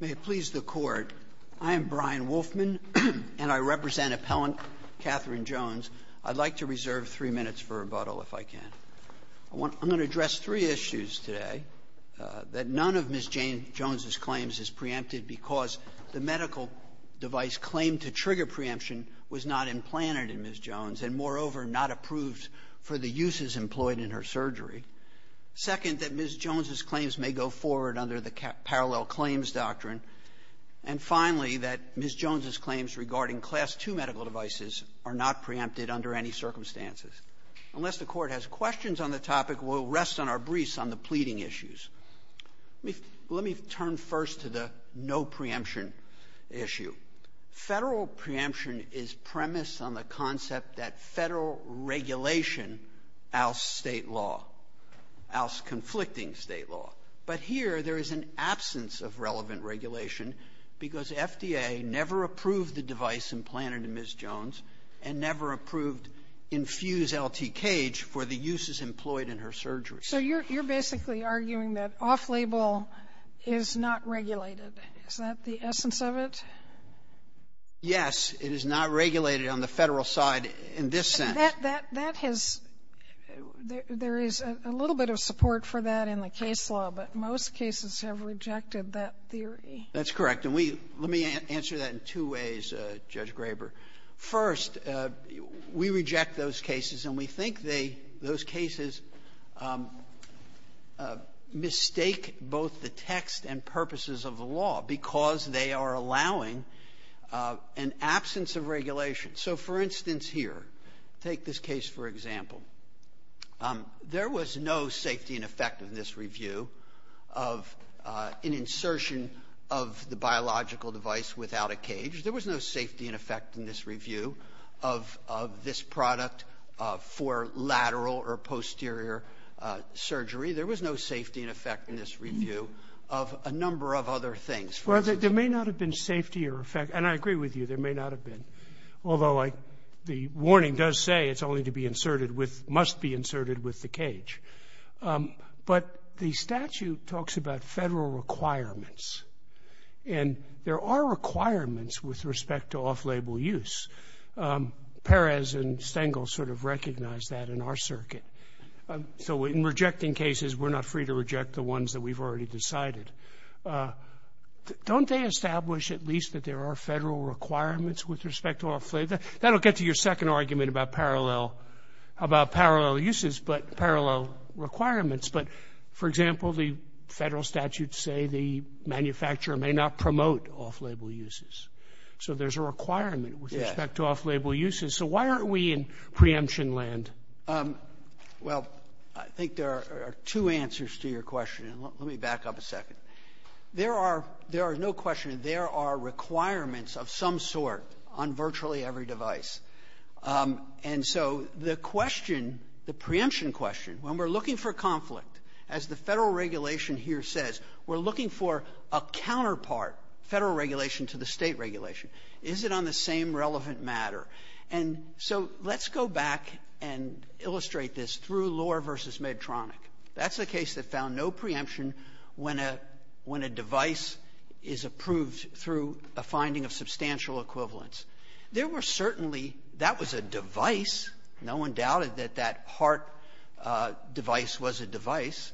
May it please the Court, I am Brian Wolfman, and I represent appellant Katherine Jones. I'd like to reserve three minutes for rebuttal, if I can. I'm going to address three issues today. That none of Ms. Jones's claims is preempted because the medical device claimed to trigger preemption was not implanted in Ms. Jones and, moreover, not approved for the uses employed in her surgery. Second, that Ms. Jones's claims may go forward under the Parallel Claims Doctrine. And finally, that Ms. Jones's claims regarding Class II medical devices are not preempted under any circumstances. Unless the Court has questions on the topic, we'll rest on our briefs on the pleading issues. Let me turn first to the no preemption issue. Federal preemption is premised on the concept that Federal regulation outs State law, outs conflicting State law. But here there is an absence of relevant regulation because FDA never approved the device implanted in Ms. Jones and never approved infused LT-CAGE for the uses employed in her surgery. Sotomayor, so you're basically arguing that off-label is not regulated. Is that the essence of it? Yes. It is not regulated on the Federal side in this sense. That has – there is a little bit of support for that in the case law, but most cases have rejected that theory. That's correct. And we – let me answer that in two ways, Judge Graber. First, we reject those cases and we think they – those cases mistake both the text and purposes of the law because they are allowing an absence of regulation. So, for instance, here, take this case for example. There was no safety and effectiveness review of an insertion of the biological device without a cage. There was no safety and effectiveness review of this product for lateral or posterior surgery. There was no safety and effectiveness review of a number of other things. Well, there may not have been safety or – and I agree with you. There may not have been, although the warning does say it's only to be inserted with – must be inserted with the cage. But the statute talks about Federal requirements. And there are requirements with respect to off-label use. Perez and Stengel sort of recognize that in our circuit. So in rejecting cases, we're not free to reject the ones that we've already decided. Don't they establish at least that there are Federal requirements with respect to off-label? That'll get to your second argument about parallel – about parallel uses, but parallel requirements. But, for example, the Federal statutes say the manufacturer may not promote off-label uses. So there's a requirement with respect to off-label uses. So why aren't we in preemption land? Well, I think there are two answers to your question, and let me back up a second. There are – there is no question there are requirements of some sort on virtually every device. And so the question, the preemption question, when we're looking for conflict, as the Federal regulation here says, we're looking for a counterpart Federal regulation to the State regulation. Is it on the same relevant matter? And so let's go back and illustrate this through Lohr v. Medtronic. That's a case that found no preemption when a – when a device is approved through a finding of substantial equivalence. There were certainly – that was a device. No one doubted that that HART device was a device.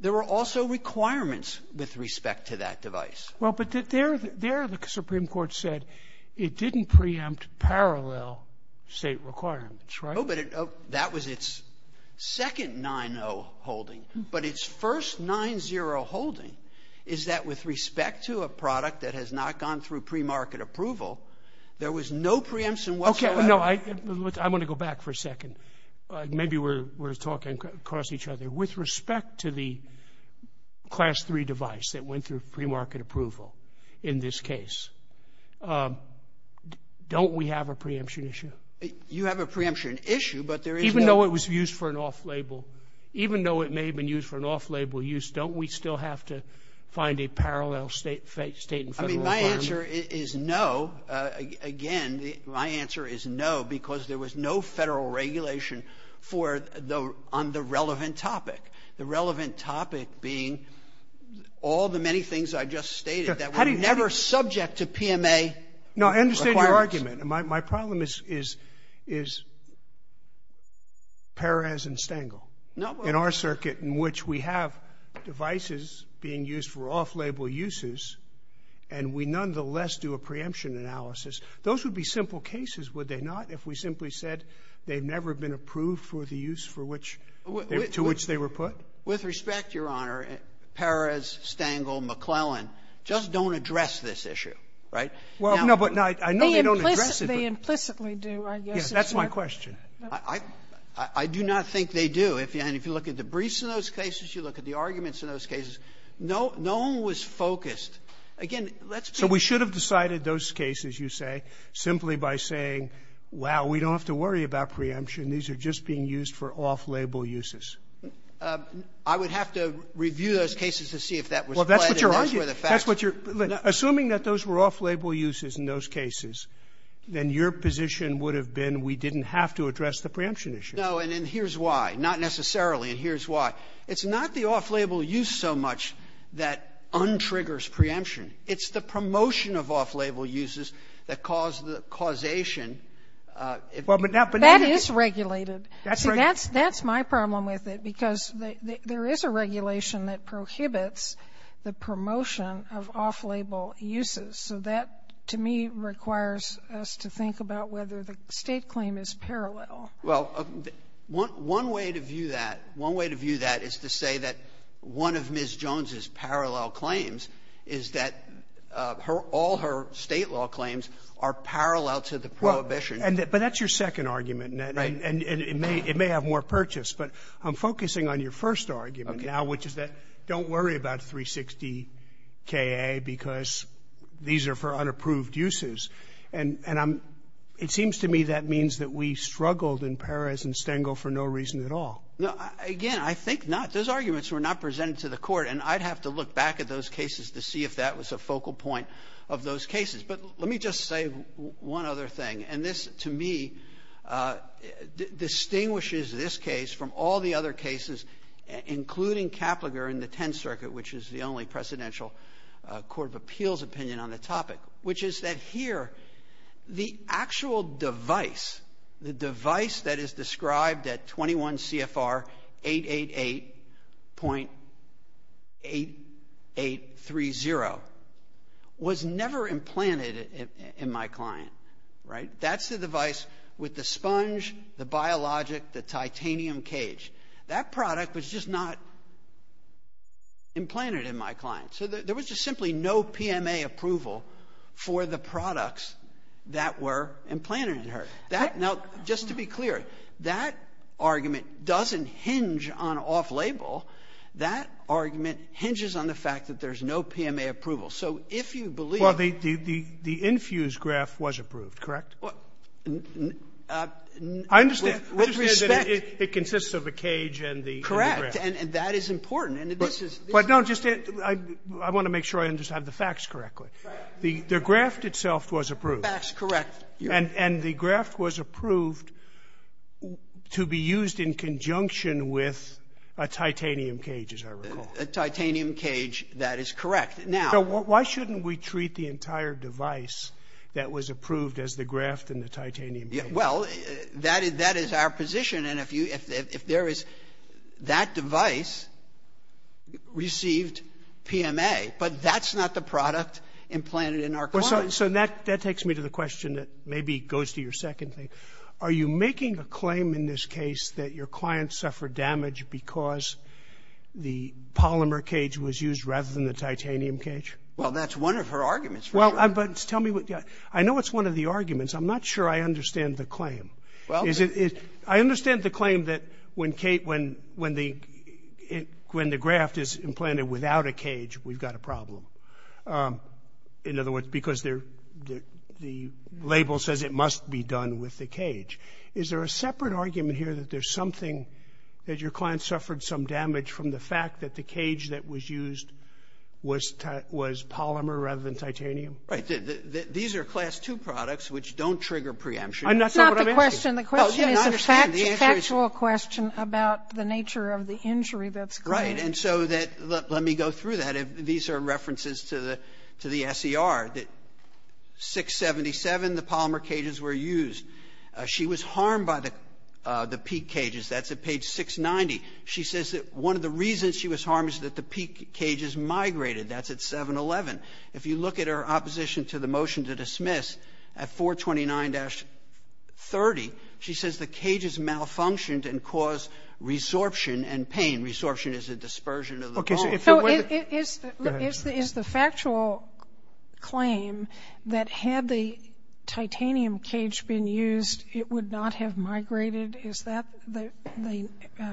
There were also requirements with respect to that device. Well, but there the Supreme Court said it didn't preempt parallel State requirements, right? No, but it – that was its second 9-0 holding. But its first 9-0 holding is that with respect to a product that has not gone through premarket approval, there was no preemption whatsoever. Okay. No, I'm going to go back for a second. Maybe we're talking across each other. With respect to the Class III device that went through premarket approval in this case, don't we have a preemption issue? You have a preemption issue, but there is no – Even though it was used for an off-label – even though it may have been used for an off-label use, don't we still have to find a parallel State and Federal firm? My answer is no. Again, my answer is no, because there was no Federal regulation for – on the relevant topic, the relevant topic being all the many things I just stated that were never subject to PMA requirements. No, I understand your argument. My problem is Perez and Stengel. No, but – We nonetheless do a preemption analysis. Those would be simple cases, would they not, if we simply said they've never been approved for the use for which – to which they were put? With respect, Your Honor, Perez, Stengel, McClellan just don't address this issue, right? Well, no, but I know they don't address it, but – They implicitly do, I guess. Yes, that's my question. I do not think they do. And if you look at the briefs in those cases, you look at the So we should have decided those cases, you say, simply by saying, wow, we don't have to worry about preemption. These are just being used for off-label uses. I would have to review those cases to see if that was correct, and that's where the facts were. Well, that's what you're arguing. That's what you're – assuming that those were off-label uses in those cases, then your position would have been we didn't have to address the preemption issue. No, and here's why. Not necessarily, and here's why. It's not the off-label use so much that untriggers preemption. It's the promotion of off-label uses that cause the causation. Well, but now – That is regulated. That's right. See, that's my problem with it, because there is a regulation that prohibits the promotion of off-label uses. So that, to me, requires us to think about whether the State claim is parallel. Well, one way to view that, one way to view that is to say that one of Ms. Jones's parallel claims is that her – all her State law claims are parallel to the prohibition. Well, and that – but that's your second argument, and it may – it may have more purchase. But I'm focusing on your first argument now, which is that don't worry about 360-KA because these are for unapproved uses. And I'm – it seems to me that that means that we struggled in Perez and Stengel for no reason at all. No. Again, I think not. Those arguments were not presented to the Court, and I'd have to look back at those cases to see if that was a focal point of those cases. But let me just say one other thing. And this, to me, distinguishes this case from all the other cases, including Kaplinger in the Tenth Circuit, which is the only presidential court of appeals opinion on the topic, which is that here, the actual device, the device that is described at 21 CFR 888.8830 was never implanted in my client, right? That's the device with the sponge, the biologic, the titanium cage. That product was just not implanted in my client. So there was just simply no PMA approval for the products that were implanted in her. That – now, just to be clear, that argument doesn't hinge on off-label. That argument hinges on the fact that there's no PMA approval. So if you believe the – Well, the – the infused graph was approved, correct? Well, with respect – I understand. I understand that it consists of a cage and the graph. Correct. And that is important. And this is – But no, just – I want to make sure I understand the facts correctly. Right. The graph itself was approved. The facts, correct. And the graph was approved to be used in conjunction with a titanium cage, as I recall. A titanium cage, that is correct. Now – So why shouldn't we treat the entire device that was approved as the graph and the titanium cage? Well, that is – that is our position. And if you – if there is – that device received PMA, but that's not the product implanted in our client. So that – that takes me to the question that maybe goes to your second thing. Are you making a claim in this case that your client suffered damage because the polymer cage was used rather than the titanium cage? Well, that's one of her arguments. Well, but tell me what – I know it's one of the arguments. I'm not sure I understand the claim. Well – Is it – I understand the claim that when the graph is implanted without a cage, we've got a problem. In other words, because the label says it must be done with the cage. Is there a separate argument here that there's something – that your client suffered some damage from the fact that the cage that was used was polymer rather than titanium? Right. These are Class II products, which don't trigger preemption. I'm not sure what I'm asking. It's not the question. The question is a factual question about the nature of the injury that's created. Right. And so that – let me go through that. These are references to the – to the SER. 677, the polymer cages were used. She was harmed by the peak cages. That's at page 690. She says that one of the reasons she was harmed is that the peak cages migrated. That's at 711. If you look at her opposition to the motion to dismiss, at 429-30, she says the cages malfunctioned and caused resorption and pain. Resorption is a dispersion of the bone. Okay. So if it were the – So is the factual claim that had the titanium cage been used, it would not have migrated, is that the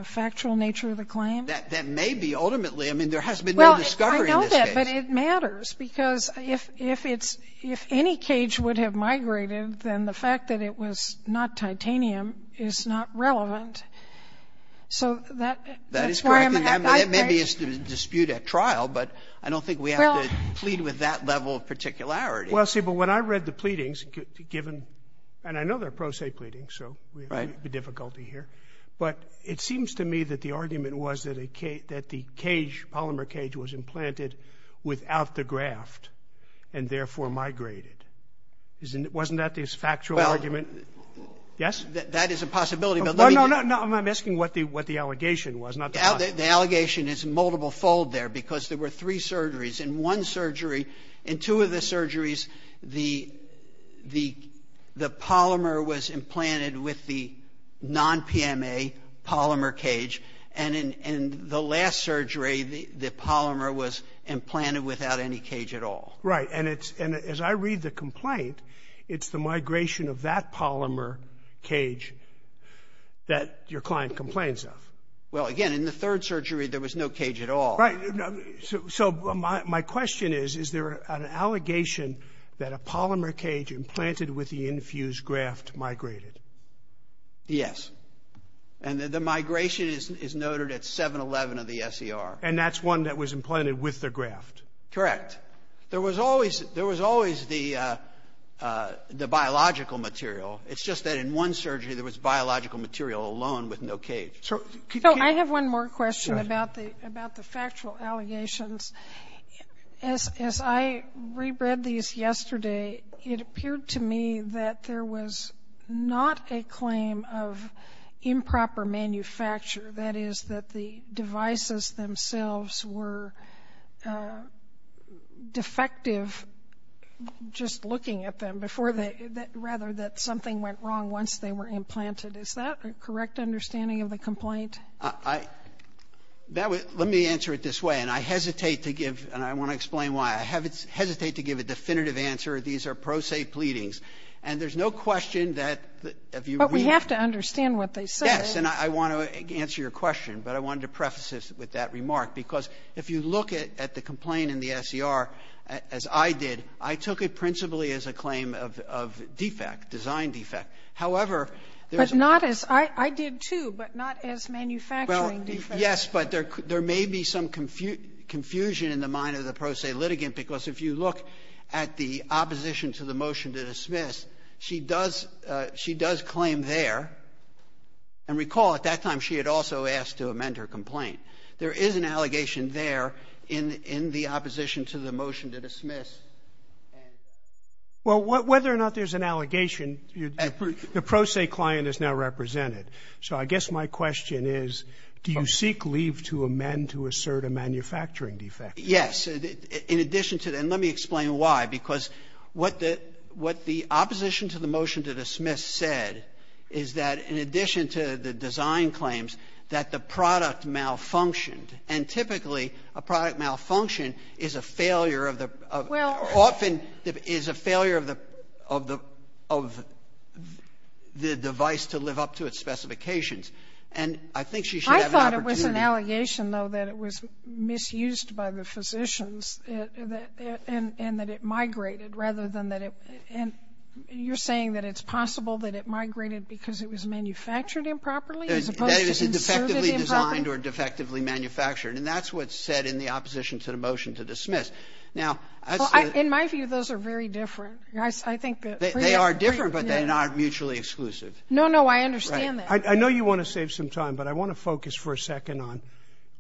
factual nature of the claim? That may be, ultimately. I mean, there has been no discovery in this case. But it matters because if it's – if any cage would have migrated, then the fact that it was not titanium is not relevant. So that's why I'm – That is correct. And that maybe is to dispute at trial, but I don't think we have to plead with that level of particularity. Well, see, but when I read the pleadings, given – and I know they're pro se pleadings, so we have a difficulty here. But it seems to me that the argument was that a cage – that the cage, polymer cage, was implanted without the graft and therefore migrated. Isn't it – wasn't that the factual argument? Well, that is a possibility, but let me – No, no, no. I'm asking what the – what the allegation was, not the – The allegation is multiple-fold there because there were three surgeries. In one surgery, in two of the surgeries, the polymer was implanted with the non-PMA polymer cage. And in the last surgery, the polymer was implanted without any cage at all. Right. And it's – and as I read the complaint, it's the migration of that polymer cage that your client complains of. Well, again, in the third surgery, there was no cage at all. Right. So my question is, is there an allegation that a polymer cage implanted with the infused graft migrated? Yes. And the migration is noted at 7-11 of the SER. And that's one that was implanted with the graft? Correct. There was always – there was always the biological material. It's just that in one surgery, there was biological material alone with no cage. So – So I have one more question about the – about the factual allegations. As I read these yesterday, it appeared to me that there was not a claim of improper manufacture, that is, that the devices themselves were defective just looking at them before they – rather that something went wrong once they were implanted. Is that a correct understanding of the complaint? I – that would – let me answer it this way, and I hesitate to give – and I want to explain why. I hesitate to give a definitive answer. These are pro se pleadings. And there's no question that if you read – But we have to understand what they say. Yes. And I want to answer your question. But I wanted to preface this with that remark, because if you look at the complaint in the SER as I did, I took it principally as a claim of defect, design defect. However, there's – But not as – I did, too, but not as manufacturing defect. Yes, but there may be some confusion in the mind of the pro se litigant, because if you look at the opposition to the motion to dismiss, she does – she does claim there. And recall, at that time, she had also asked to amend her complaint. There is an allegation there in the opposition to the motion to dismiss. Well, whether or not there's an allegation, the pro se client is now represented. So I guess my question is, do you seek leave to amend to assert a manufacturing defect? Yes. In addition to – and let me explain why. Because what the – what the opposition to the motion to dismiss said is that in addition to the design claims, that the product malfunctioned. And typically, a product malfunction is a failure of the – Well – And I think she should have an opportunity to – I thought it was an allegation, though, that it was misused by the physicians that – and that it migrated rather than that it – and you're saying that it's possible that it migrated because it was manufactured improperly as opposed to inserted improperly? That it was defectively designed or defectively manufactured. And that's what's said in the opposition to the motion to dismiss. Now, that's the – Well, in my view, those are very different. I think that – They are different, but they're not mutually exclusive. No, no, I understand that. I know you want to save some time, but I want to focus for a second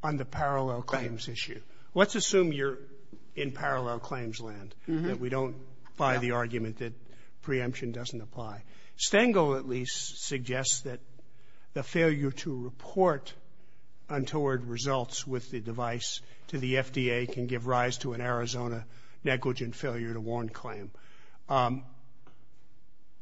on the parallel claims issue. Let's assume you're in parallel claims land, that we don't buy the argument that preemption doesn't apply. Stengel, at least, suggests that the failure to report untoward results with the device to the FDA can give rise to an Arizona negligent failure to warn claim.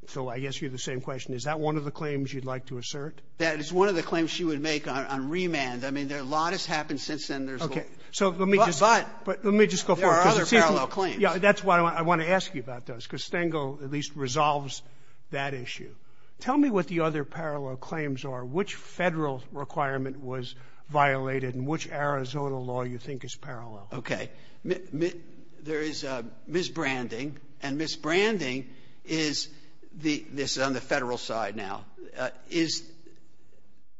So I guess you have the same question. Is that one of the claims you'd like to assert? That is one of the claims she would make on remand. I mean, a lot has happened since then. Okay. So let me just go forward. But there are other parallel claims. Yeah, that's why I want to ask you about those, because Stengel at least resolves that issue. Tell me what the other parallel claims are. Which Federal requirement was violated, and which Arizona law you think is parallel? Okay. There is misbranding, and misbranding is the — this is on the Federal side now — is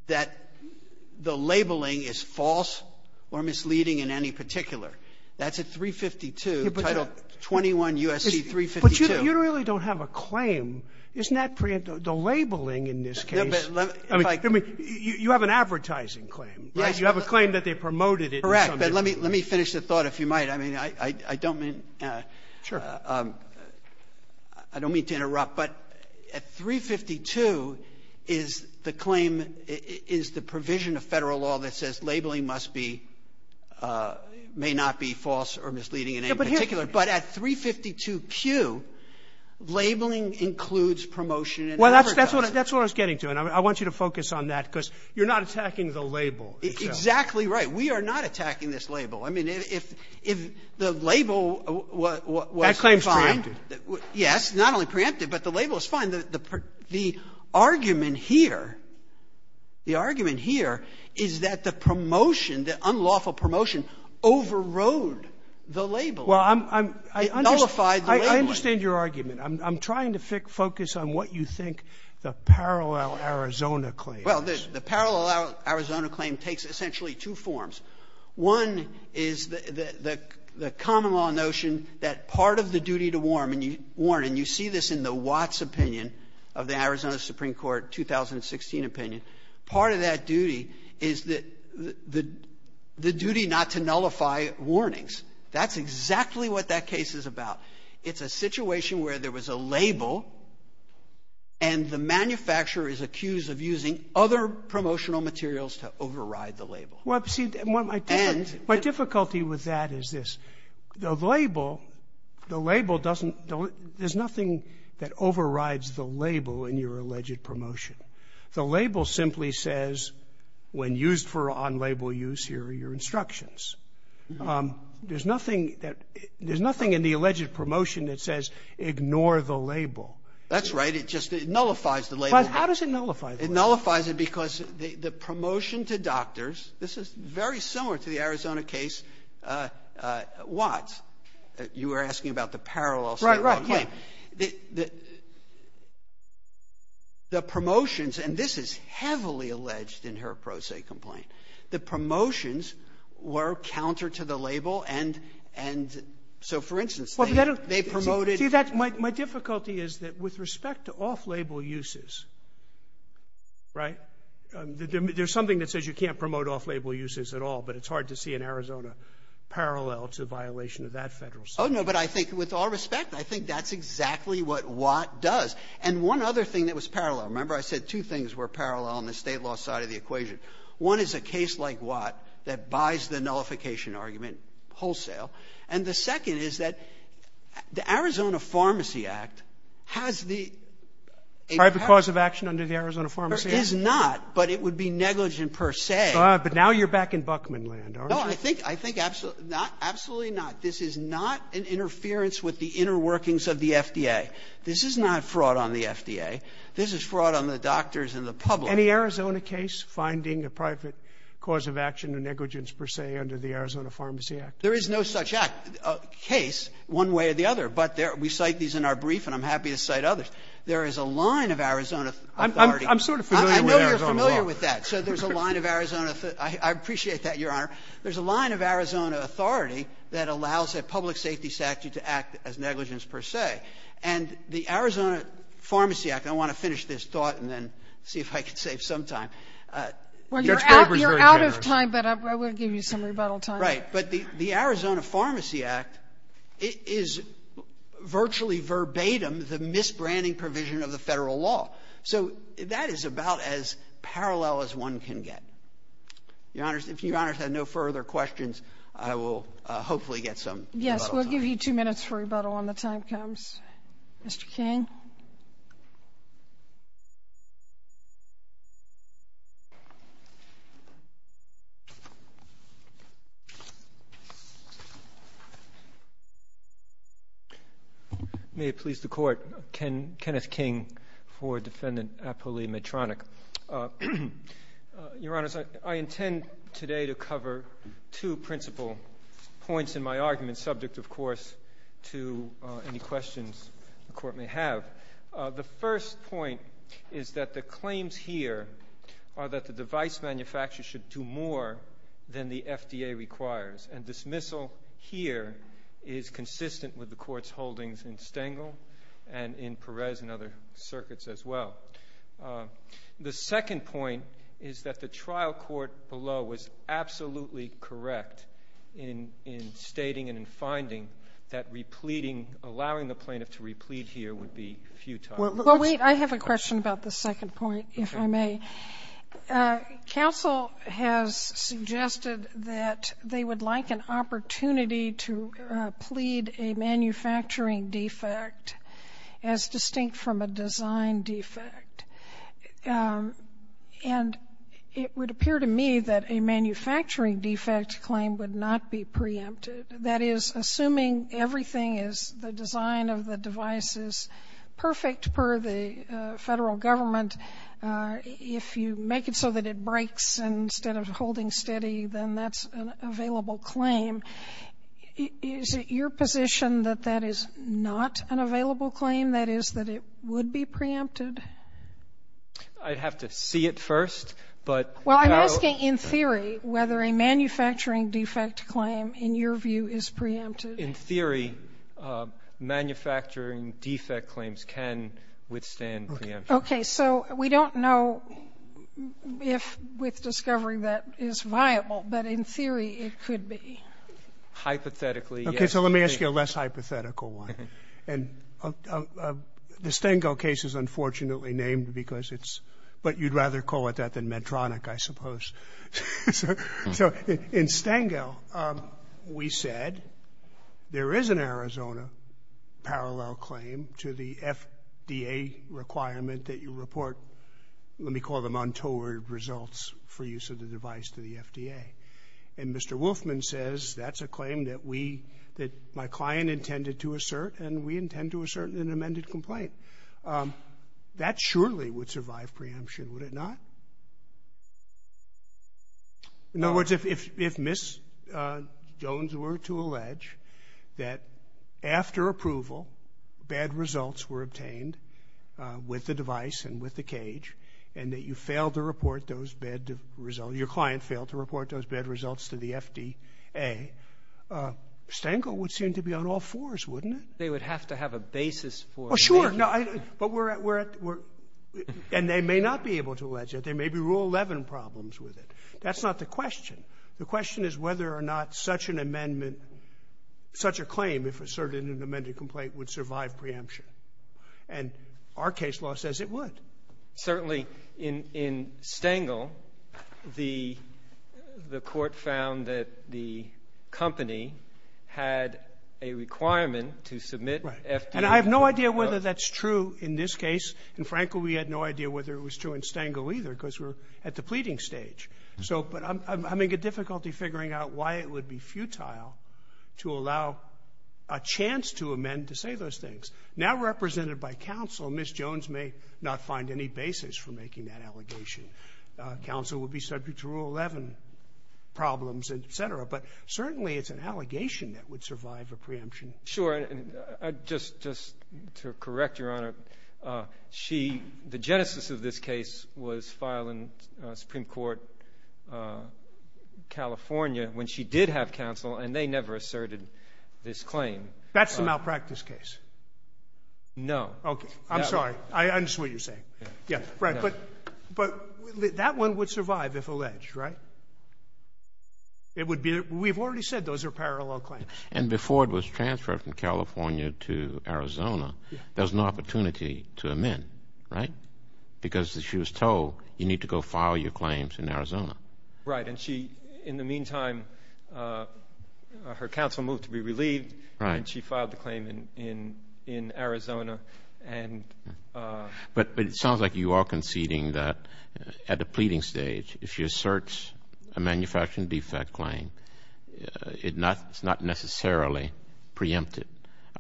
that the labeling is false or misleading in any particular. That's at 352, Title 21 U.S.C. 352. But you really don't have a claim. Isn't that preemptive? The labeling in this case — No, but let me — I mean, you have an advertising claim, right? You have a claim that they promoted it in some way. Let me finish the thought, if you might. I mean, I don't mean to interrupt. But at 352 is the claim — is the provision of Federal law that says labeling must be — may not be false or misleading in any particular. But at 352Q, labeling includes promotion and overdose. Well, that's what I was getting to. And I want you to focus on that, because you're not attacking the label. Exactly right. We are not attacking this label. I mean, if the label was fine — That claim is preemptive. Yes. Not only preemptive, but the label is fine. The argument here, the argument here is that the promotion, the unlawful promotion overrode the label. Well, I'm — It nullified the labeling. I understand your argument. I'm trying to focus on what you think the Parallel Arizona claim is. Well, the Parallel Arizona claim takes essentially two forms. One is the common law notion that part of the duty to warn, and you see this in the Watts opinion of the Arizona Supreme Court 2016 opinion. Part of that duty is the duty not to nullify warnings. That's exactly what that case is about. It's a situation where there was a label, and the manufacturer is accused of using other promotional materials to override the label. Well, see, my difficulty with that is this. The label — the label doesn't — there's nothing that overrides the label in your alleged promotion. The label simply says, when used for on-label use, here are your instructions. There's nothing that — there's nothing in the alleged promotion that says, ignore the label. That's right. But how does it nullify the label? It nullifies it because the promotion to doctors — this is very similar to the Arizona case, Watts. You were asking about the Parallel Arizona claim. Right, right, yeah. The promotions — and this is heavily alleged in her pro se complaint. The promotions were counter to the label, and so, for instance, they promoted — Right? There's something that says you can't promote off-label uses at all, but it's hard to see an Arizona parallel to the violation of that Federal statute. Oh, no, but I think, with all respect, I think that's exactly what Watt does. And one other thing that was parallel — remember, I said two things were parallel on the State law side of the equation. One is a case like Watt that buys the nullification argument wholesale. And the second is that the Arizona Pharmacy Act has the — A private cause of action under the Arizona Pharmacy Act? There is not, but it would be negligent per se. But now you're back in Buckman land, aren't you? No, I think — I think absolutely not. This is not an interference with the inner workings of the FDA. This is not fraud on the FDA. This is fraud on the doctors and the public. Any Arizona case finding a private cause of action or negligence per se under the Arizona Pharmacy Act? There is no such act — case one way or the other. But there — we cite these in our brief, and I'm happy to cite others. But there is a line of Arizona authority. I'm sort of familiar with Arizona law. I know you're familiar with that. So there's a line of Arizona — I appreciate that, Your Honor. There's a line of Arizona authority that allows a public safety statute to act as negligence per se. And the Arizona Pharmacy Act — I want to finish this thought and then see if I can save some time. Well, you're out — you're out of time, but I will give you some rebuttal time. Right. But the Arizona Pharmacy Act is virtually verbatim the misbranding provision of the Federal law. So that is about as parallel as one can get. Your Honor, if Your Honor has no further questions, I will hopefully get some rebuttal time. Yes. We'll give you two minutes for rebuttal when the time comes. Mr. King. May it please the Court. Kenneth King for Defendant Apolli Medtronic. Your Honor, I intend today to cover two principal points in my argument, subject, of course, to any questions the Court may have. The first point is that the claims here are that the device manufacturer should do more than the FDA requires. And dismissal here is consistent with the Court's holdings in Stengel and in Perez and other circuits as well. The second point is that the trial court below was absolutely correct in stating and in that repleading, allowing the plaintiff to replead here would be futile. Well, wait. I have a question about the second point, if I may. Counsel has suggested that they would like an opportunity to plead a manufacturing defect as distinct from a design defect. And it would appear to me that a manufacturing defect claim would not be preempted. That is, assuming everything is the design of the device is perfect per the Federal government, if you make it so that it breaks instead of holding steady, then that's an available claim. Is it your position that that is not an available claim? That is, that it would be preempted? I'd have to see it first. Well, I'm asking in theory whether a manufacturing defect claim, in your view, is preempted. In theory, manufacturing defect claims can withstand preemption. Okay. So we don't know if with discovery that is viable, but in theory it could be. Hypothetically, yes. Okay. So let me ask you a less hypothetical one. And the Stengel case is unfortunately named because it's what you'd rather call it better than Medtronic, I suppose. So in Stengel, we said there is an Arizona parallel claim to the FDA requirement that you report, let me call them untoward results, for use of the device to the FDA. And Mr. Wolfman says that's a claim that we – that my client intended to assert and we intend to assert in an amended complaint. That surely would survive preemption, would it not? In other words, if Ms. Jones were to allege that after approval, bad results were obtained with the device and with the cage, and that you failed to report those bad results, your client failed to report those bad results to the FDA, Stengel would seem to be on all fours, wouldn't it? Oh, sure. But we're at – and they may not be able to allege it. There may be Rule 11 problems with it. That's not the question. The question is whether or not such an amendment – such a claim, if asserted in an amended complaint, would survive preemption. And our case law says it would. Certainly, in Stengel, the Court found that the company had a requirement to submit FDA – And I have no idea whether that's true in this case. And, frankly, we had no idea whether it was true in Stengel either, because we're at the pleading stage. So – but I'm having difficulty figuring out why it would be futile to allow a chance to amend to say those things. Now represented by counsel, Ms. Jones may not find any basis for making that allegation. Counsel would be subject to Rule 11 problems, et cetera. But certainly it's an allegation that would survive a preemption. Sure. And just to correct Your Honor, she – the genesis of this case was filed in Supreme Court California when she did have counsel, and they never asserted this claim. That's the malpractice case. No. Okay. I'm sorry. I understand what you're saying. Yeah. Right. But that one would survive if alleged, right? It would be – we've already said those are parallel claims. And before it was transferred from California to Arizona, there was no opportunity to amend, right? Because as she was told, you need to go file your claims in Arizona. Right. And she – in the meantime, her counsel moved to be relieved. Right. And she filed the claim in Arizona. And – But it sounds like you are conceding that at the pleading stage, if she asserts a manufacturing defect claim, it's not necessarily preempted.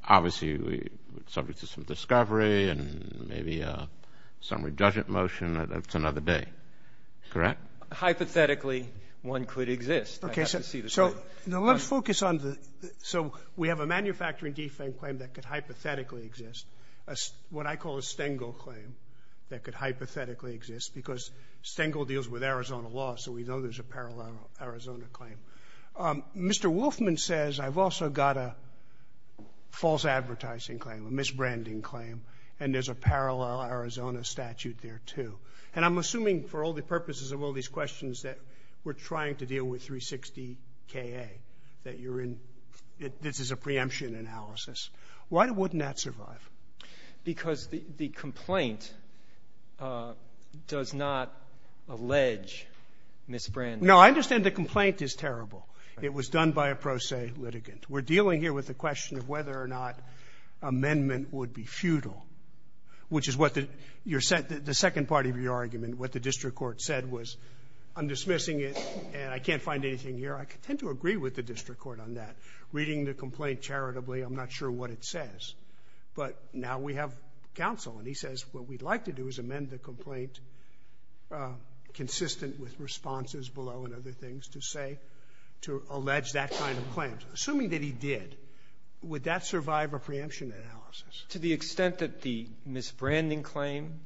Obviously, subject to some discovery and maybe some redressant motion, that's another day. Correct? Hypothetically, one could exist. Okay. So now let's focus on the – so we have a manufacturing defect claim that could hypothetically exist, what I call a Stengel claim that could hypothetically exist, because Stengel deals with Arizona law, so we know there's a parallel Arizona claim. Mr. Wolfman says, I've also got a false advertising claim, a misbranding claim, and there's a parallel Arizona statute there, too. And I'm assuming, for all the purposes of all these questions, that we're trying to deal with 360KA, that you're in – this is a preemption analysis. Why wouldn't that survive? Because the complaint does not allege misbranding. No, I understand the complaint is terrible. It was done by a pro se litigant. We're dealing here with the question of whether or not amendment would be futile, which is what the – your – the second part of your argument, what the district court said was, I'm dismissing it and I can't find anything here. I tend to agree with the district court on that. Reading the complaint charitably, I'm not sure what it says. But now we have counsel, and he says what we'd like to do is amend the complaint consistent with responses below and other things to say – to allege that kind of claim. Assuming that he did, would that survive a preemption analysis? To the extent that the misbranding claim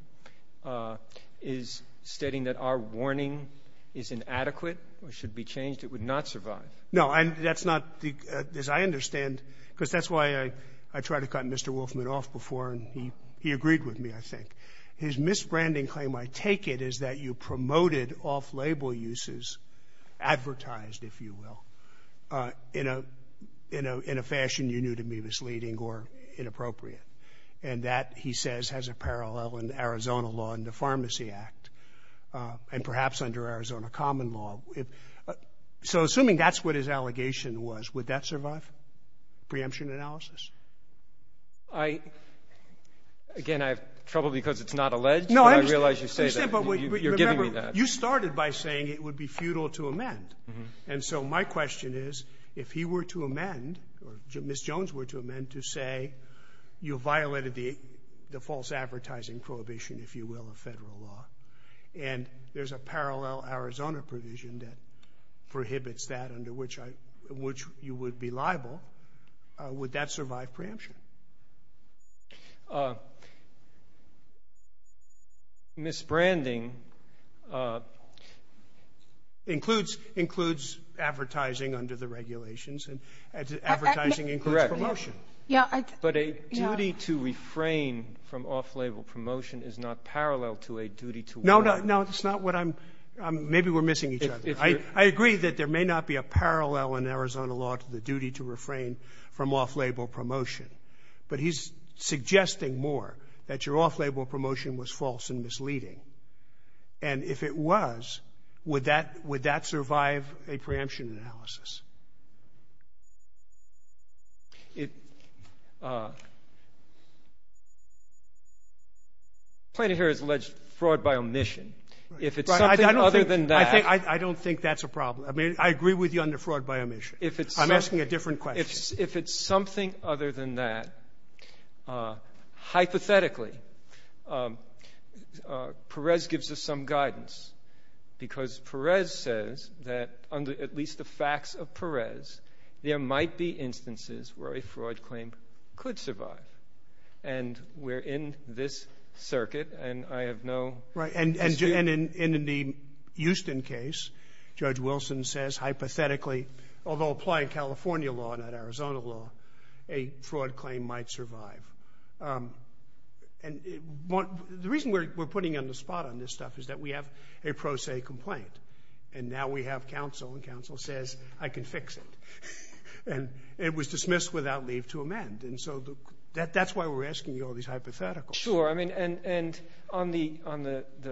is stating that our warning is inadequate or should be changed, it would not survive. No, that's not – as I understand – because that's why I tried to cut Mr. Wolfman off before, and he agreed with me, I think. His misbranding claim, I take it, is that you promoted off-label uses, advertised, if you will, in a fashion you knew to be misleading or inappropriate. And that, he says, has a parallel in Arizona law and the Pharmacy Act and perhaps under Arizona common law. So assuming that's what his allegation was, would that survive preemption analysis? I – again, I have trouble because it's not alleged, but I realize you say that. No, I understand. You're giving me that. You started by saying it would be futile to amend. And so my question is, if he were to amend or Ms. Jones were to amend to say you violated the false advertising prohibition, if you will, of federal law and there's a parallel Arizona provision that prohibits that, under which you would be liable, would that survive preemption? Misbranding includes advertising under the regulations, and advertising includes promotion. But a duty to refrain from off-label promotion is not parallel to a duty to work. No, that's not what I'm – maybe we're missing each other. I agree that there may not be a parallel in Arizona law to the duty to refrain from off-label promotion. But he's suggesting more that your off-label promotion was false and misleading. And if it was, would that survive a preemption analysis? It – the plaintiff here has alleged fraud by omission. Right. If it's something other than that – I don't think that's a problem. I mean, I agree with you under fraud by omission. If it's – I'm asking a different question. If it's something other than that, hypothetically, Perez gives us some guidance because Perez says that under at least the facts of Perez, there might be instances where a fraud claim could survive. And we're in this circuit, and I have no – Right. And in the Houston case, Judge Wilson says, hypothetically, although applying California law, not Arizona law, a fraud claim might survive. And the reason we're putting you on the spot on this stuff is that we have a pro se complaint. And now we have counsel, and counsel says, I can fix it. And it was dismissed without leave to amend. And so that's why we're asking you all these hypotheticals. Sure. I mean, and on the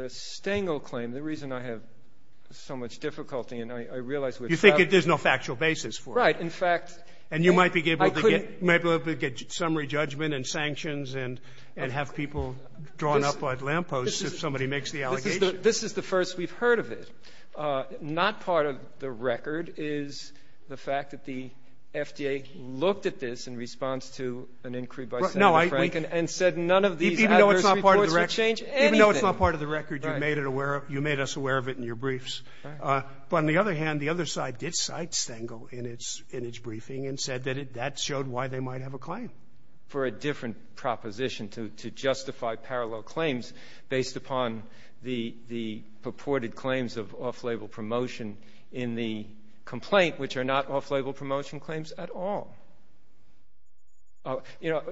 Stengel claim, the reason I have so much difficulty and I realize we're – You think there's no factual basis for it. Right. In fact, I couldn't – And you might be able to get summary judgment and sanctions and have people drawn up on lampposts if somebody makes the allegation. This is the first we've heard of it. Not part of the record is the fact that the FDA looked at this in response to an inquiry by Senator Franken and said none of these adverse reports would change anything. Even though it's not part of the record, you made it aware of – you made us aware of it in your briefs. But on the other hand, the other side did cite Stengel in its briefing and said that that showed why they might have a claim. I'm looking for a different proposition to justify parallel claims based upon the purported claims of off-label promotion in the complaint, which are not off-label promotion claims at all. You know,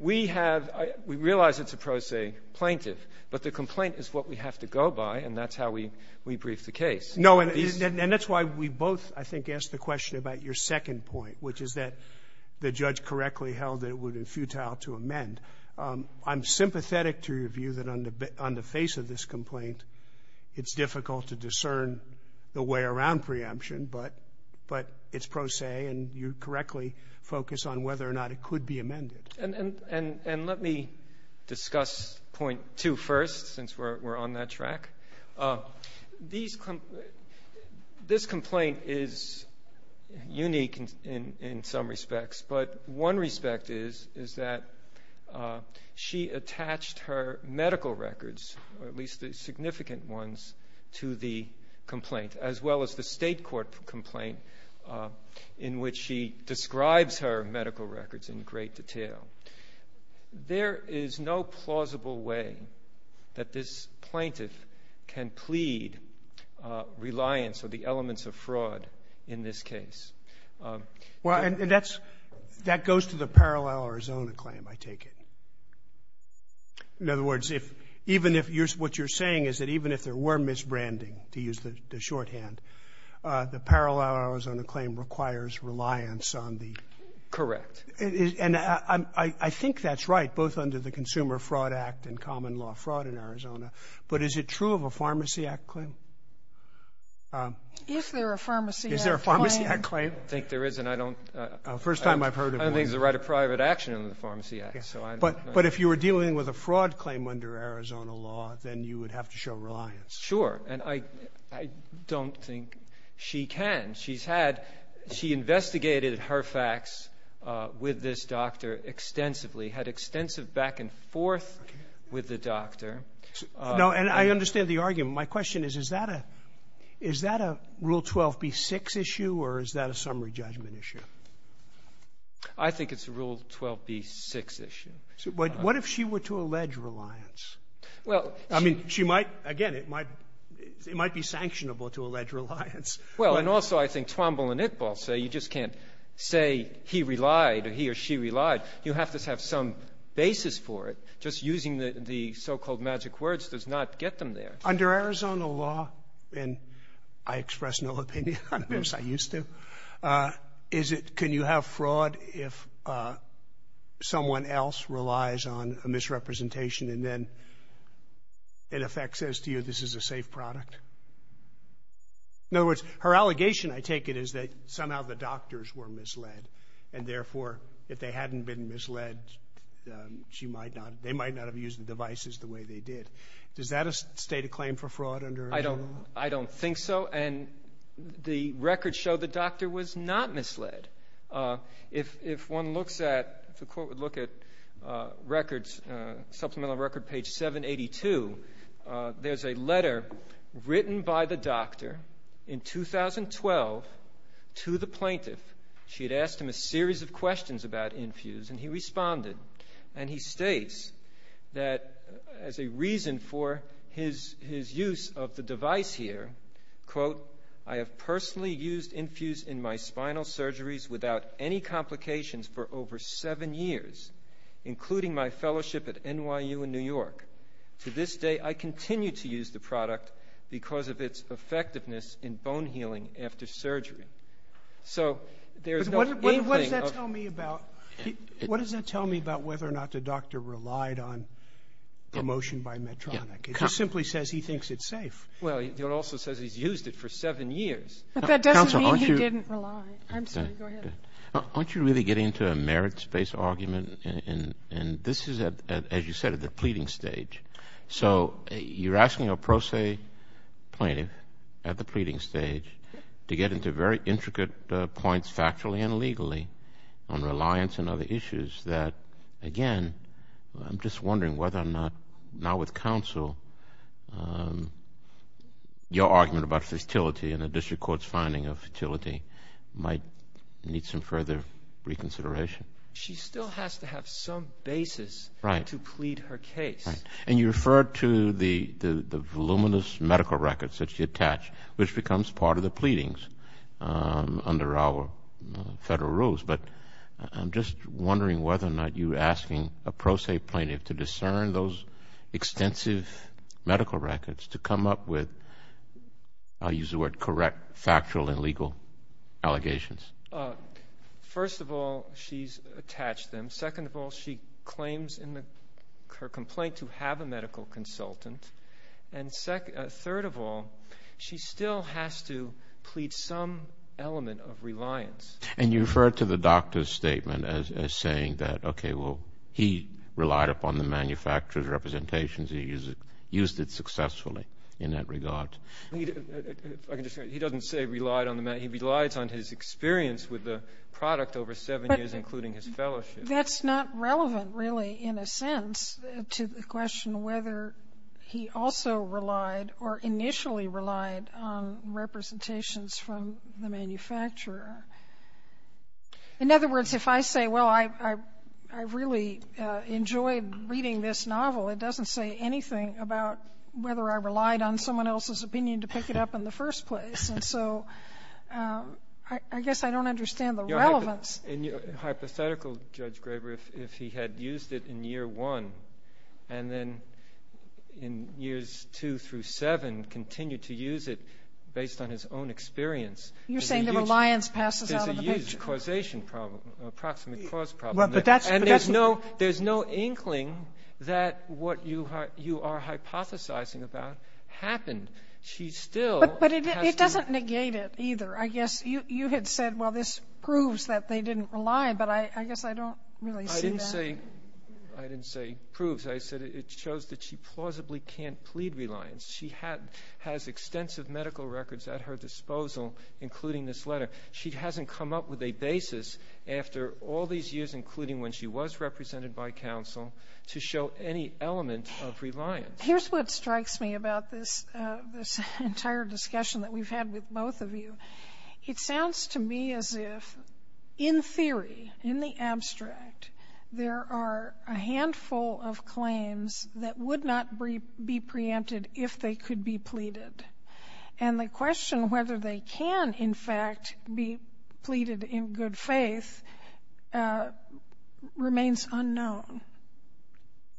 we have – we realize it's a pro se plaintiff, but the complaint is what we have to go by, and that's how we brief the case. No, and that's why we both, I think, asked the question about your second point, which is that the judge correctly held that it would be futile to amend. I'm sympathetic to your view that on the face of this complaint it's difficult to discern the way around preemption, but it's pro se and you correctly focus on whether or not it could be amended. And let me discuss point two first, since we're on that track. This complaint is unique in some respects, but one respect is that she attached her medical records, or at least the significant ones, to the complaint, as well as the state court complaint, in which she describes her medical records in great detail. There is no plausible way that this plaintiff can plead reliance or the elements of fraud in this case. Well, and that goes to the Parallel Arizona claim, I take it. In other words, what you're saying is that even if there were misbranding, to use the shorthand, the Parallel Arizona claim requires reliance on the – Correct. And I think that's right, both under the Consumer Fraud Act and common law fraud in Arizona. But is it true of a Pharmacy Act claim? If there are Pharmacy Act claims. Is there a Pharmacy Act claim? I think there is, and I don't – First time I've heard of one. I don't think there's a right of private action under the Pharmacy Act. But if you were dealing with a fraud claim under Arizona law, then you would have to show reliance. Sure. And I don't think she can. She's had – she investigated her facts with this doctor extensively, had extensive back and forth with the doctor. No. And I understand the argument. My question is, is that a – is that a Rule 12b-6 issue, or is that a summary judgment issue? I think it's a Rule 12b-6 issue. What if she were to allege reliance? Well – I mean, she might – again, it might be sanctionable to allege reliance. Well, and also I think Twombly and Iqbal say you just can't say he relied or he or she relied. You have to have some basis for it. Just using the so-called magic words does not get them there. Under Arizona law – and I express no opinion on this. I used to. Is it – can you have fraud if someone else relies on a misrepresentation and then it affects as to you this is a safe product? In other words, her allegation, I take it, is that somehow the doctors were misled and, therefore, if they hadn't been misled, she might not – they might not have used the devices the way they did. Does that state a claim for fraud under Arizona law? I don't think so, and the records show the doctor was not misled. If one looks at – if the court would look at records, supplemental record page 782, there's a letter written by the doctor in 2012 to the plaintiff. She had asked him a series of questions about Infuse, and he responded, and he states that as a reason for his use of the device here, quote, I have personally used Infuse in my spinal surgeries without any complications for over seven years, including my fellowship at NYU in New York. To this day, I continue to use the product because of its effectiveness in bone healing after surgery. So there's no – What does that tell me about whether or not the doctor relied on promotion by Medtronic? It just simply says he thinks it's safe. Well, it also says he's used it for seven years. But that doesn't mean he didn't rely. I'm sorry, go ahead. Aren't you really getting into a merits-based argument? And this is, as you said, at the pleading stage. So you're asking a pro se plaintiff at the pleading stage to get into very intricate points factually and legally on reliance and other issues that, again, I'm just wondering whether or not, now with counsel, your argument about fertility and the district court's finding of fertility might need some further reconsideration. She still has to have some basis to plead her case. Right. And you referred to the voluminous medical records that she attached, which becomes part of the pleadings under our federal rules. But I'm just wondering whether or not you're asking a pro se plaintiff to discern those extensive medical records to come up with, I'll use the word correct, factual and legal allegations. First of all, she's attached them. Second of all, she claims in her complaint to have a medical consultant. And third of all, she still has to plead some element of reliance. And you referred to the doctor's statement as saying that, okay, well, he relied upon the manufacturer's representations, he used it successfully in that regard. He doesn't say relied on the manufacturer. He relies on his experience with the product over seven years, including his fellowship. That's not relevant, really, in a sense, to the question whether he also relied or initially relied on representations from the manufacturer. In other words, if I say, well, I really enjoyed reading this novel, it doesn't say anything about whether I relied on someone else's opinion to pick it up in the first place. And so I guess I don't understand the relevance. And hypothetical, Judge Graber, if he had used it in year one and then in years two through seven continued to use it based on his own experience. You're saying the reliance passes out of the picture. There's a huge causation problem, approximate cause problem. And there's no inkling that what you are hypothesizing about happened. She still has to. But it doesn't negate it either. I guess you had said, well, this proves that they didn't rely, but I guess I don't really see that. I didn't say proves. I said it shows that she plausibly can't plead reliance. She has extensive medical records at her disposal, including this letter. She hasn't come up with a basis after all these years, including when she was represented by counsel, to show any element of reliance. Here's what strikes me about this entire discussion that we've had with both of you. It sounds to me as if, in theory, in the abstract, there are a handful of claims that would not be preempted if they could be pleaded. And the question whether they can, in fact, be pleaded in good faith remains unknown.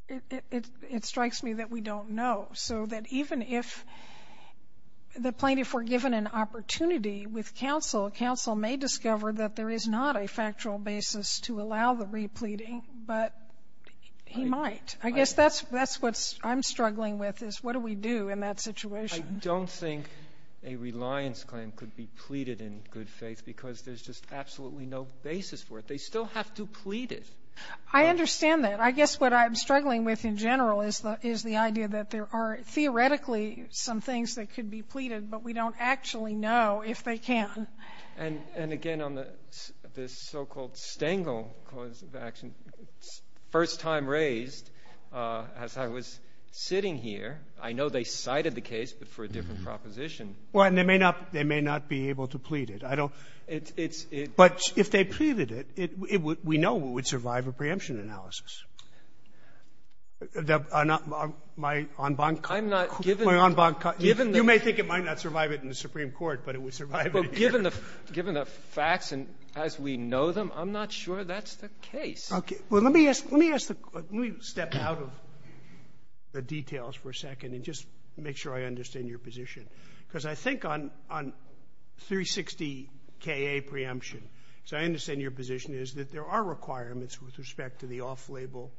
It strikes me that we don't know. So that even if the plaintiff were given an opportunity with counsel, counsel may discover that there is not a factual basis to allow the repleading, but he might. I guess that's what I'm struggling with, is what do we do in that situation? I don't think a reliance claim could be pleaded in good faith, because there's just absolutely no basis for it. They still have to plead it. I understand that. I guess what I'm struggling with in general is the idea that there are theoretically some things that could be pleaded, but we don't actually know if they can. And, again, on this so-called Stengel cause of action, first time raised, as I was sitting here, I know they cited the case, but for a different proposition. Well, and they may not be able to plead it. But if they pleaded it, we know it would survive a preemption analysis. My en banc – I'm not – My en banc – You may think it might not survive it in the Supreme Court, but it would survive it here. Well, given the facts and as we know them, I'm not sure that's the case. Okay. Well, let me ask the – let me step out of the details for a second and just make sure I understand your position, because I think on 360-KA preemption, because I understand your position is that there are requirements with respect to the off-label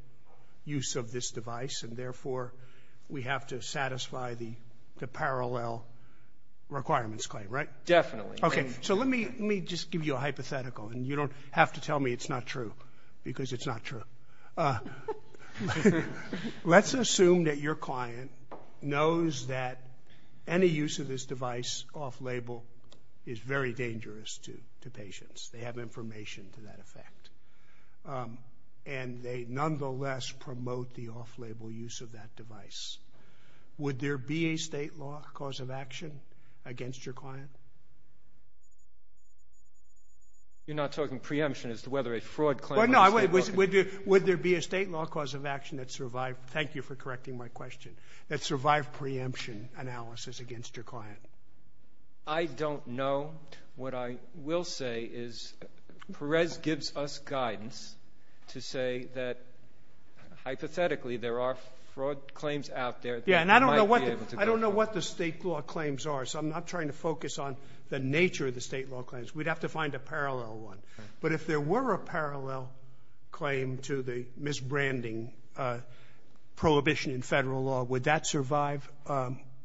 use of this device, and, therefore, we have to satisfy the parallel requirements claim, right? Definitely. Okay. So let me just give you a hypothetical, and you don't have to tell me it's not true, because it's not true. Let's assume that your client knows that any use of this device off-label is very dangerous to patients. They have information to that effect. And they nonetheless promote the off-label use of that device. Would there be a state law cause of action against your client? You're not talking preemption as to whether a fraud claim – Well, no. Would there be a state law cause of action that survived – thank you for correcting my question – that survived preemption analysis against your client? I don't know. What I will say is Perez gives us guidance to say that, hypothetically, there are Yeah, and I don't know what the state law claims are, so I'm not trying to focus on the nature of the state law claims. We'd have to find a parallel one. But if there were a parallel claim to the misbranding prohibition in Federal law, would that survive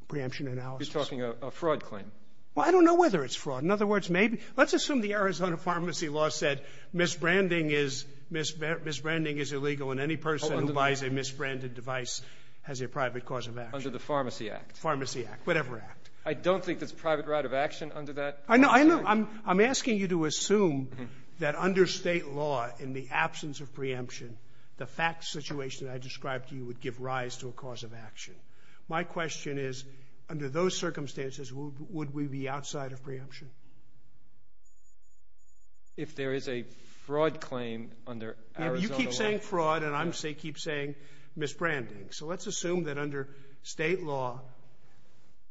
preemption analysis? You're talking a fraud claim. Well, I don't know whether it's fraud. In other words, maybe – let's assume the Arizona pharmacy law said misbranding is illegal and any person who buys a misbranded device has a private cause of action. Under the Pharmacy Act. Pharmacy Act. Whatever act. I don't think there's private right of action under that. I know. I'm asking you to assume that under state law, in the absence of preemption, the fact situation I described to you would give rise to a cause of action. My question is, under those circumstances, would we be outside of preemption? If there is a fraud claim under Arizona law. You keep saying fraud and I keep saying misbranding. So let's assume that under state law,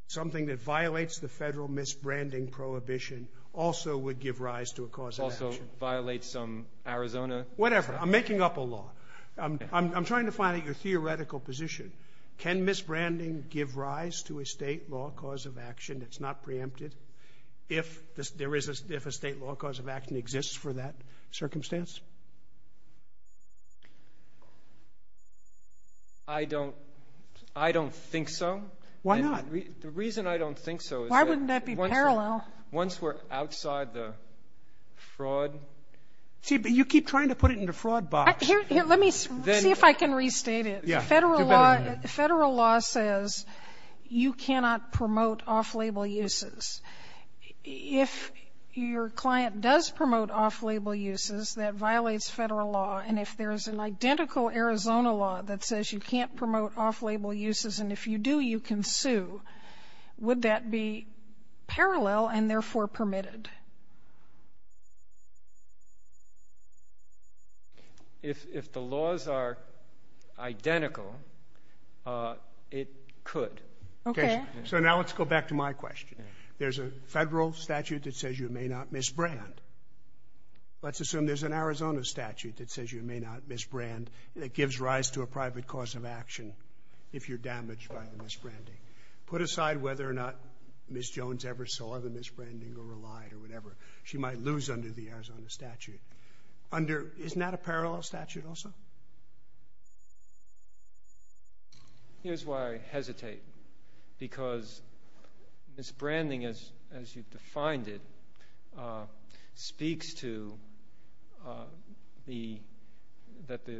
something that violates the Federal misbranding prohibition also would give rise to a cause of action. Also violate some Arizona. Whatever. I'm making up a law. I'm trying to find out your theoretical position. Can misbranding give rise to a state law cause of action that's not preempted? If there is a state law cause of action exists for that circumstance? I don't. I don't think so. Why not? The reason I don't think so. Why wouldn't that be parallel? Once we're outside the fraud. See, but you keep trying to put it in the fraud box. Let me see if I can restate it. Yeah. Federal law says you cannot promote off-label uses. If your client does promote off-label uses, that violates Federal law, and if there is an identical Arizona law that says you can't promote off-label uses and if you do, you can sue, would that be parallel and therefore permitted? If the laws are identical, it could. Okay. So now let's go back to my question. There's a Federal statute that says you may not misbrand. Let's assume there's an Arizona statute that says you may not misbrand that gives rise to a private cause of action if you're damaged by the misbranding. Put aside whether or not Ms. Jones ever saw the misbranding or relied or whatever, she might lose under the Arizona statute. Under, isn't that a parallel statute also? Here's why I hesitate. Because misbranding, as you've defined it, speaks to the product.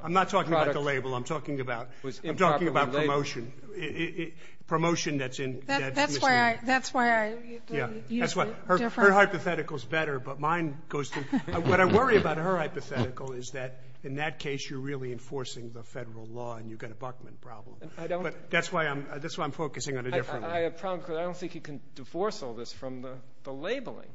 I'm not talking about the label. I'm talking about promotion. Promotion that's in. That's why I use a different. Her hypothetical is better, but mine goes through. What I worry about her hypothetical is that in that case you're really enforcing the Federal law and you've got a Buckman problem. That's why I'm focusing on a different one. I have a problem because I don't think you can divorce all this from the labeling.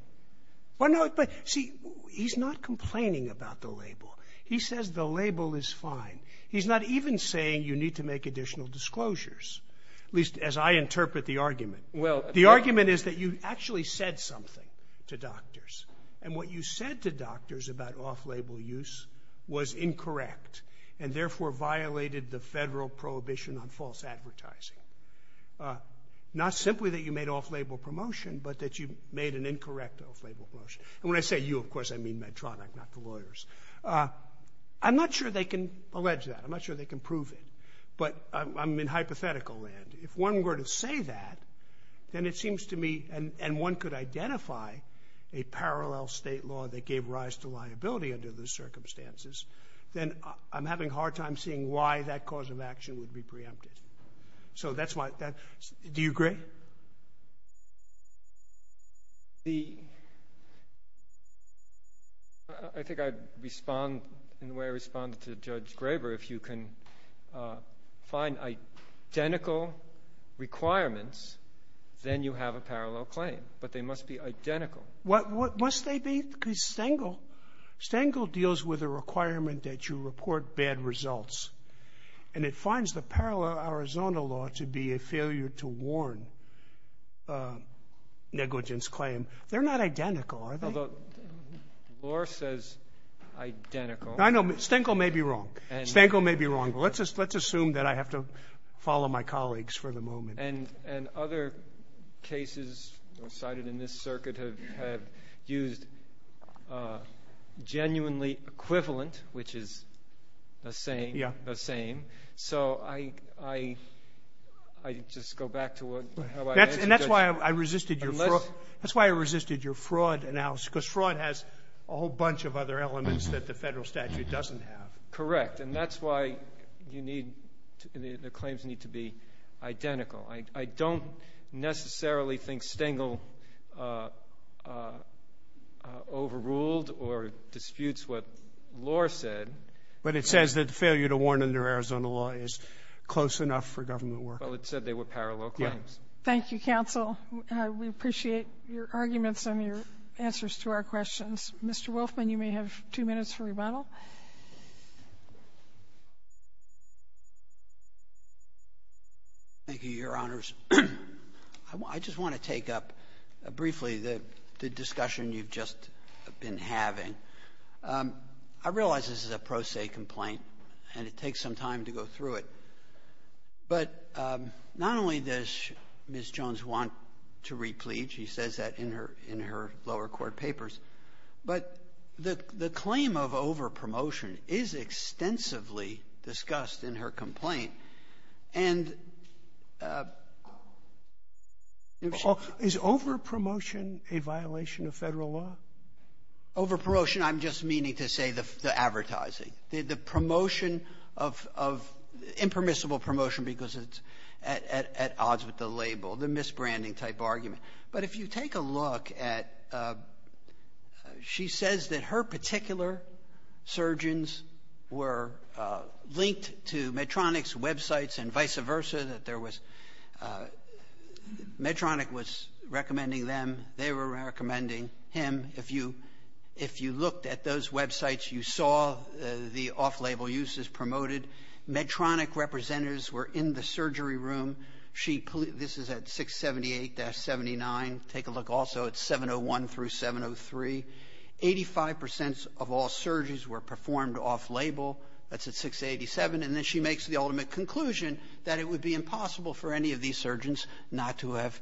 See, he's not complaining about the label. He says the label is fine. He's not even saying you need to make additional disclosures, at least as I interpret the argument. The argument is that you actually said something to doctors and what you said to doctors about off-label use was incorrect and therefore violated the Federal prohibition on false advertising. Not simply that you made off-label promotion, but that you made an incorrect off-label promotion. And when I say you, of course I mean Medtronic, not the lawyers. I'm not sure they can allege that. I'm not sure they can prove it. But I'm in hypothetical land. If one were to say that, then it seems to me, and one could identify a way of rise to liability under those circumstances, then I'm having a hard time seeing why that cause of action would be preempted. So that's my question. Do you agree? I think I'd respond in the way I responded to Judge Graber. If you can find identical requirements, then you have a parallel claim. But they must be identical. What must they be? Because Stengel deals with a requirement that you report bad results. And it finds the parallel Arizona law to be a failure to warn negligence claim. They're not identical, are they? The law says identical. I know. Stengel may be wrong. Stengel may be wrong. Let's assume that I have to follow my colleagues for the moment. And other cases cited in this circuit have used genuinely equivalent, which is the same. So I just go back to how I answered. And that's why I resisted your fraud analysis, because fraud has a whole bunch of other elements that the federal statute doesn't have. Correct. And that's why the claims need to be identical. I don't necessarily think Stengel overruled or disputes what the law said. But it says that failure to warn under Arizona law is close enough for government work. Well, it said they were parallel claims. Thank you, counsel. We appreciate your arguments and your answers to our questions. Mr. Wolfman, you may have two minutes for rebuttal. Thank you, Your Honors. I just want to take up briefly the discussion you've just been having. I realize this is a pro se complaint, and it takes some time to go through it. But not only does Ms. Jones want to replete, she says that in her lower court papers, but the claim of overpromotion is extensively discussed in her complaint. And if she — Is overpromotion a violation of Federal law? Overpromotion, I'm just meaning to say the advertising. The promotion of impermissible promotion because it's at odds with the label, the misbranding type argument. But if you take a look at — she says that her particular surgeons were linked to Medtronic's websites and vice versa, that Medtronic was recommending them, they were recommending him. If you looked at those websites, you saw the off-label uses promoted. Medtronic representatives were in the surgery room. She — this is at 678-79. Take a look also at 701 through 703. Eighty-five percent of all surgeries were performed off-label. That's at 687. And then she makes the ultimate conclusion that it would be impossible for any of these surgeons not to have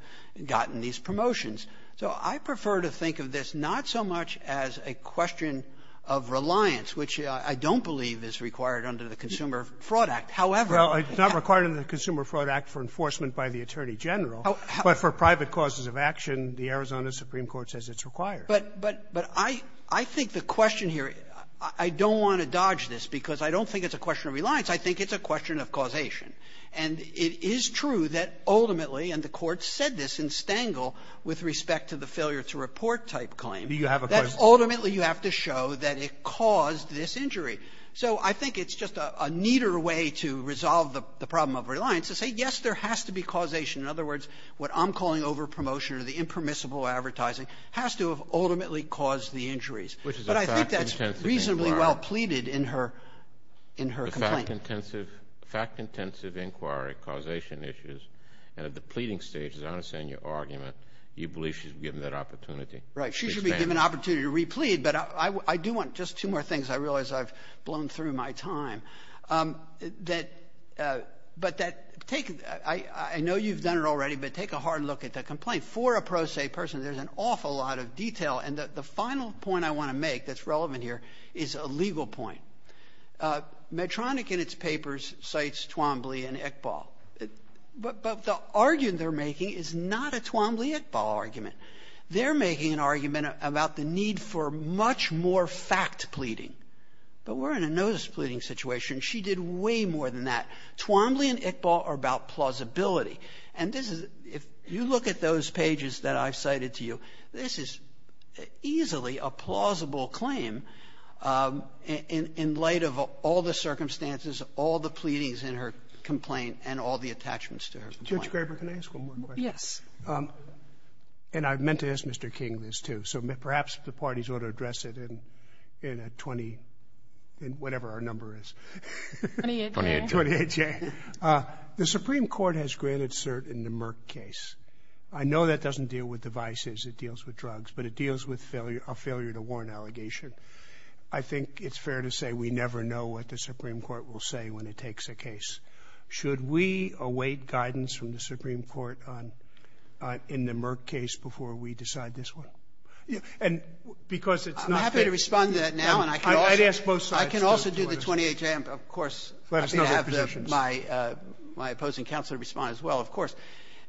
gotten these promotions. So I prefer to think of this not so much as a question of reliance, which I don't believe is required under the Consumer Fraud Act. However — Roberts, not required under the Consumer Fraud Act for enforcement by the Attorney General, but for private causes of action, the Arizona supreme court says it's required. But — but I — I think the question here, I don't want to dodge this because I don't think it's a question of reliance. I think it's a question of causation. And it is true that ultimately, and the Court said this in Stengel with respect to the failure-to-report type claim, that ultimately you have to show that it caused this injury. So I think it's just a neater way to resolve the problem of reliance to say, yes, there has to be causation. In other words, what I'm calling overpromotion or the impermissible advertising has to have ultimately caused the injuries. But I think that's reasonably well pleaded in her — in her complaint. The fact-intensive — fact-intensive inquiry, causation issues, and at the pleading stage, as I understand your argument, you believe she's been given that opportunity. Right. She should be given an opportunity to replead, but I do want just two more things. I realize I've blown through my time. That — but that — take — I know you've done it already, but take a hard look at the complaint. For a pro se person, there's an awful lot of detail. And the final point I want to make that's relevant here is a legal point. Medtronic in its papers cites Twombly and Ekbal. But the argument they're making is not a Twombly-Ekbal argument. They're making an argument about the need for much more fact pleading. But we're in a notice-pleading situation. She did way more than that. Twombly and Ekbal are about plausibility. And this is — if you look at those pages that I've cited to you, this is easily a plausible claim in — in light of all the circumstances, all the pleadings in her complaint, and all the attachments to her complaint. Roberts. Can I ask one more question? Yes. And I meant to ask Mr. King this, too. So perhaps the parties ought to address it in a 20 — in whatever our number is. Twenty-eight. Twenty-eight, yeah. The Supreme Court has granted cert in the Merck case. I know that doesn't deal with devices. It deals with drugs. But it deals with a failure-to-warn allegation. I think it's fair to say we never know what the Supreme Court will say when it takes a case. Should we await guidance from the Supreme Court in the Merck case before we decide this one? And because it's not the case. I'm happy to respond to that now, and I can also do the 28th. And, of course, I have my opposing counsel to respond as well, of course.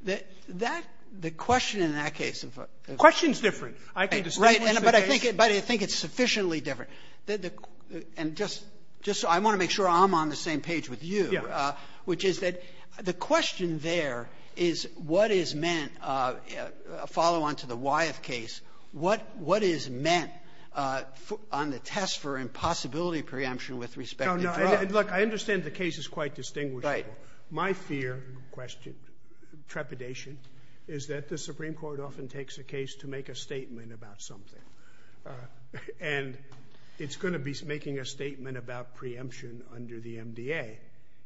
That — the question in that case of a — The question is different. I can distinguish the case. Right. But I think it's sufficiently different. And just so I want to make sure I'm on the same page with you, which is that the question there is what is meant — a follow-on to the Wyeth case — what is meant on the test for impossibility of preemption with respect to drugs? No, no. Look, I understand the case is quite distinguishable. Right. My fear, question, trepidation, is that the Supreme Court often takes a case to make a statement about something. And it's going to be making a statement about preemption under the MDA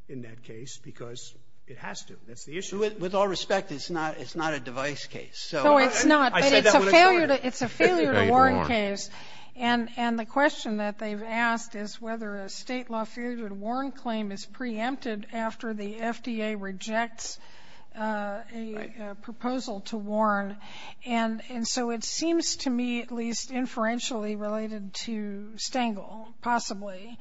in that case because it has to. That's the issue. With all respect, it's not — it's not a device case. So — No, it's not. But it's a failure — it's a failure-to-warn case. And the question that they've asked is whether a State law failure-to-warn claim is preempted after the FDA rejects a proposal to warn. And so it seems to me at least inferentially related to Stengel, possibly.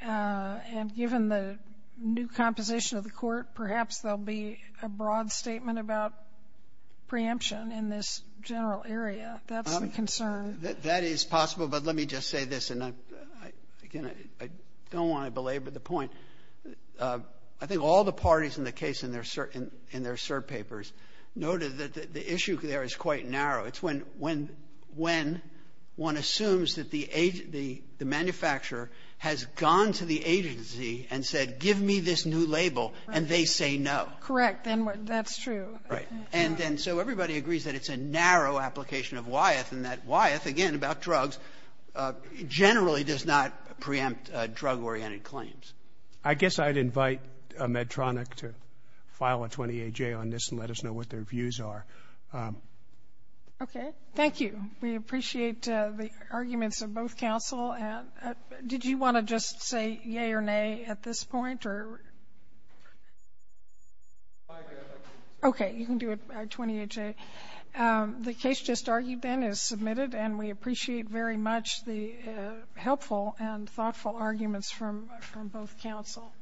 And given the new composition of the Court, perhaps there will be a broad statement about preemption in this general area. That's the concern. That is possible. But let me just say this, and I'm — again, I don't want to belabor the point. I think all the parties in the case in their cert — in their cert papers noted that the issue there is quite narrow. It's when — when — when one assumes that the manufacturer has gone to the agency and said, give me this new label, and they say no. Correct. And that's true. Right. And then so everybody agrees that it's a narrow application of Wyeth and that Wyeth, again, about drugs, generally does not preempt drug-oriented claims. I guess I'd invite Medtronic to file a 20-AJ on this and let us know what their views are. Okay. Thank you. We appreciate the arguments of both counsel. Did you want to just say yea or nay at this point, or — Okay. You can do it, 20-AJ. The case just argued then is submitted, and we appreciate very much the helpful and thoughtful arguments from both counsel.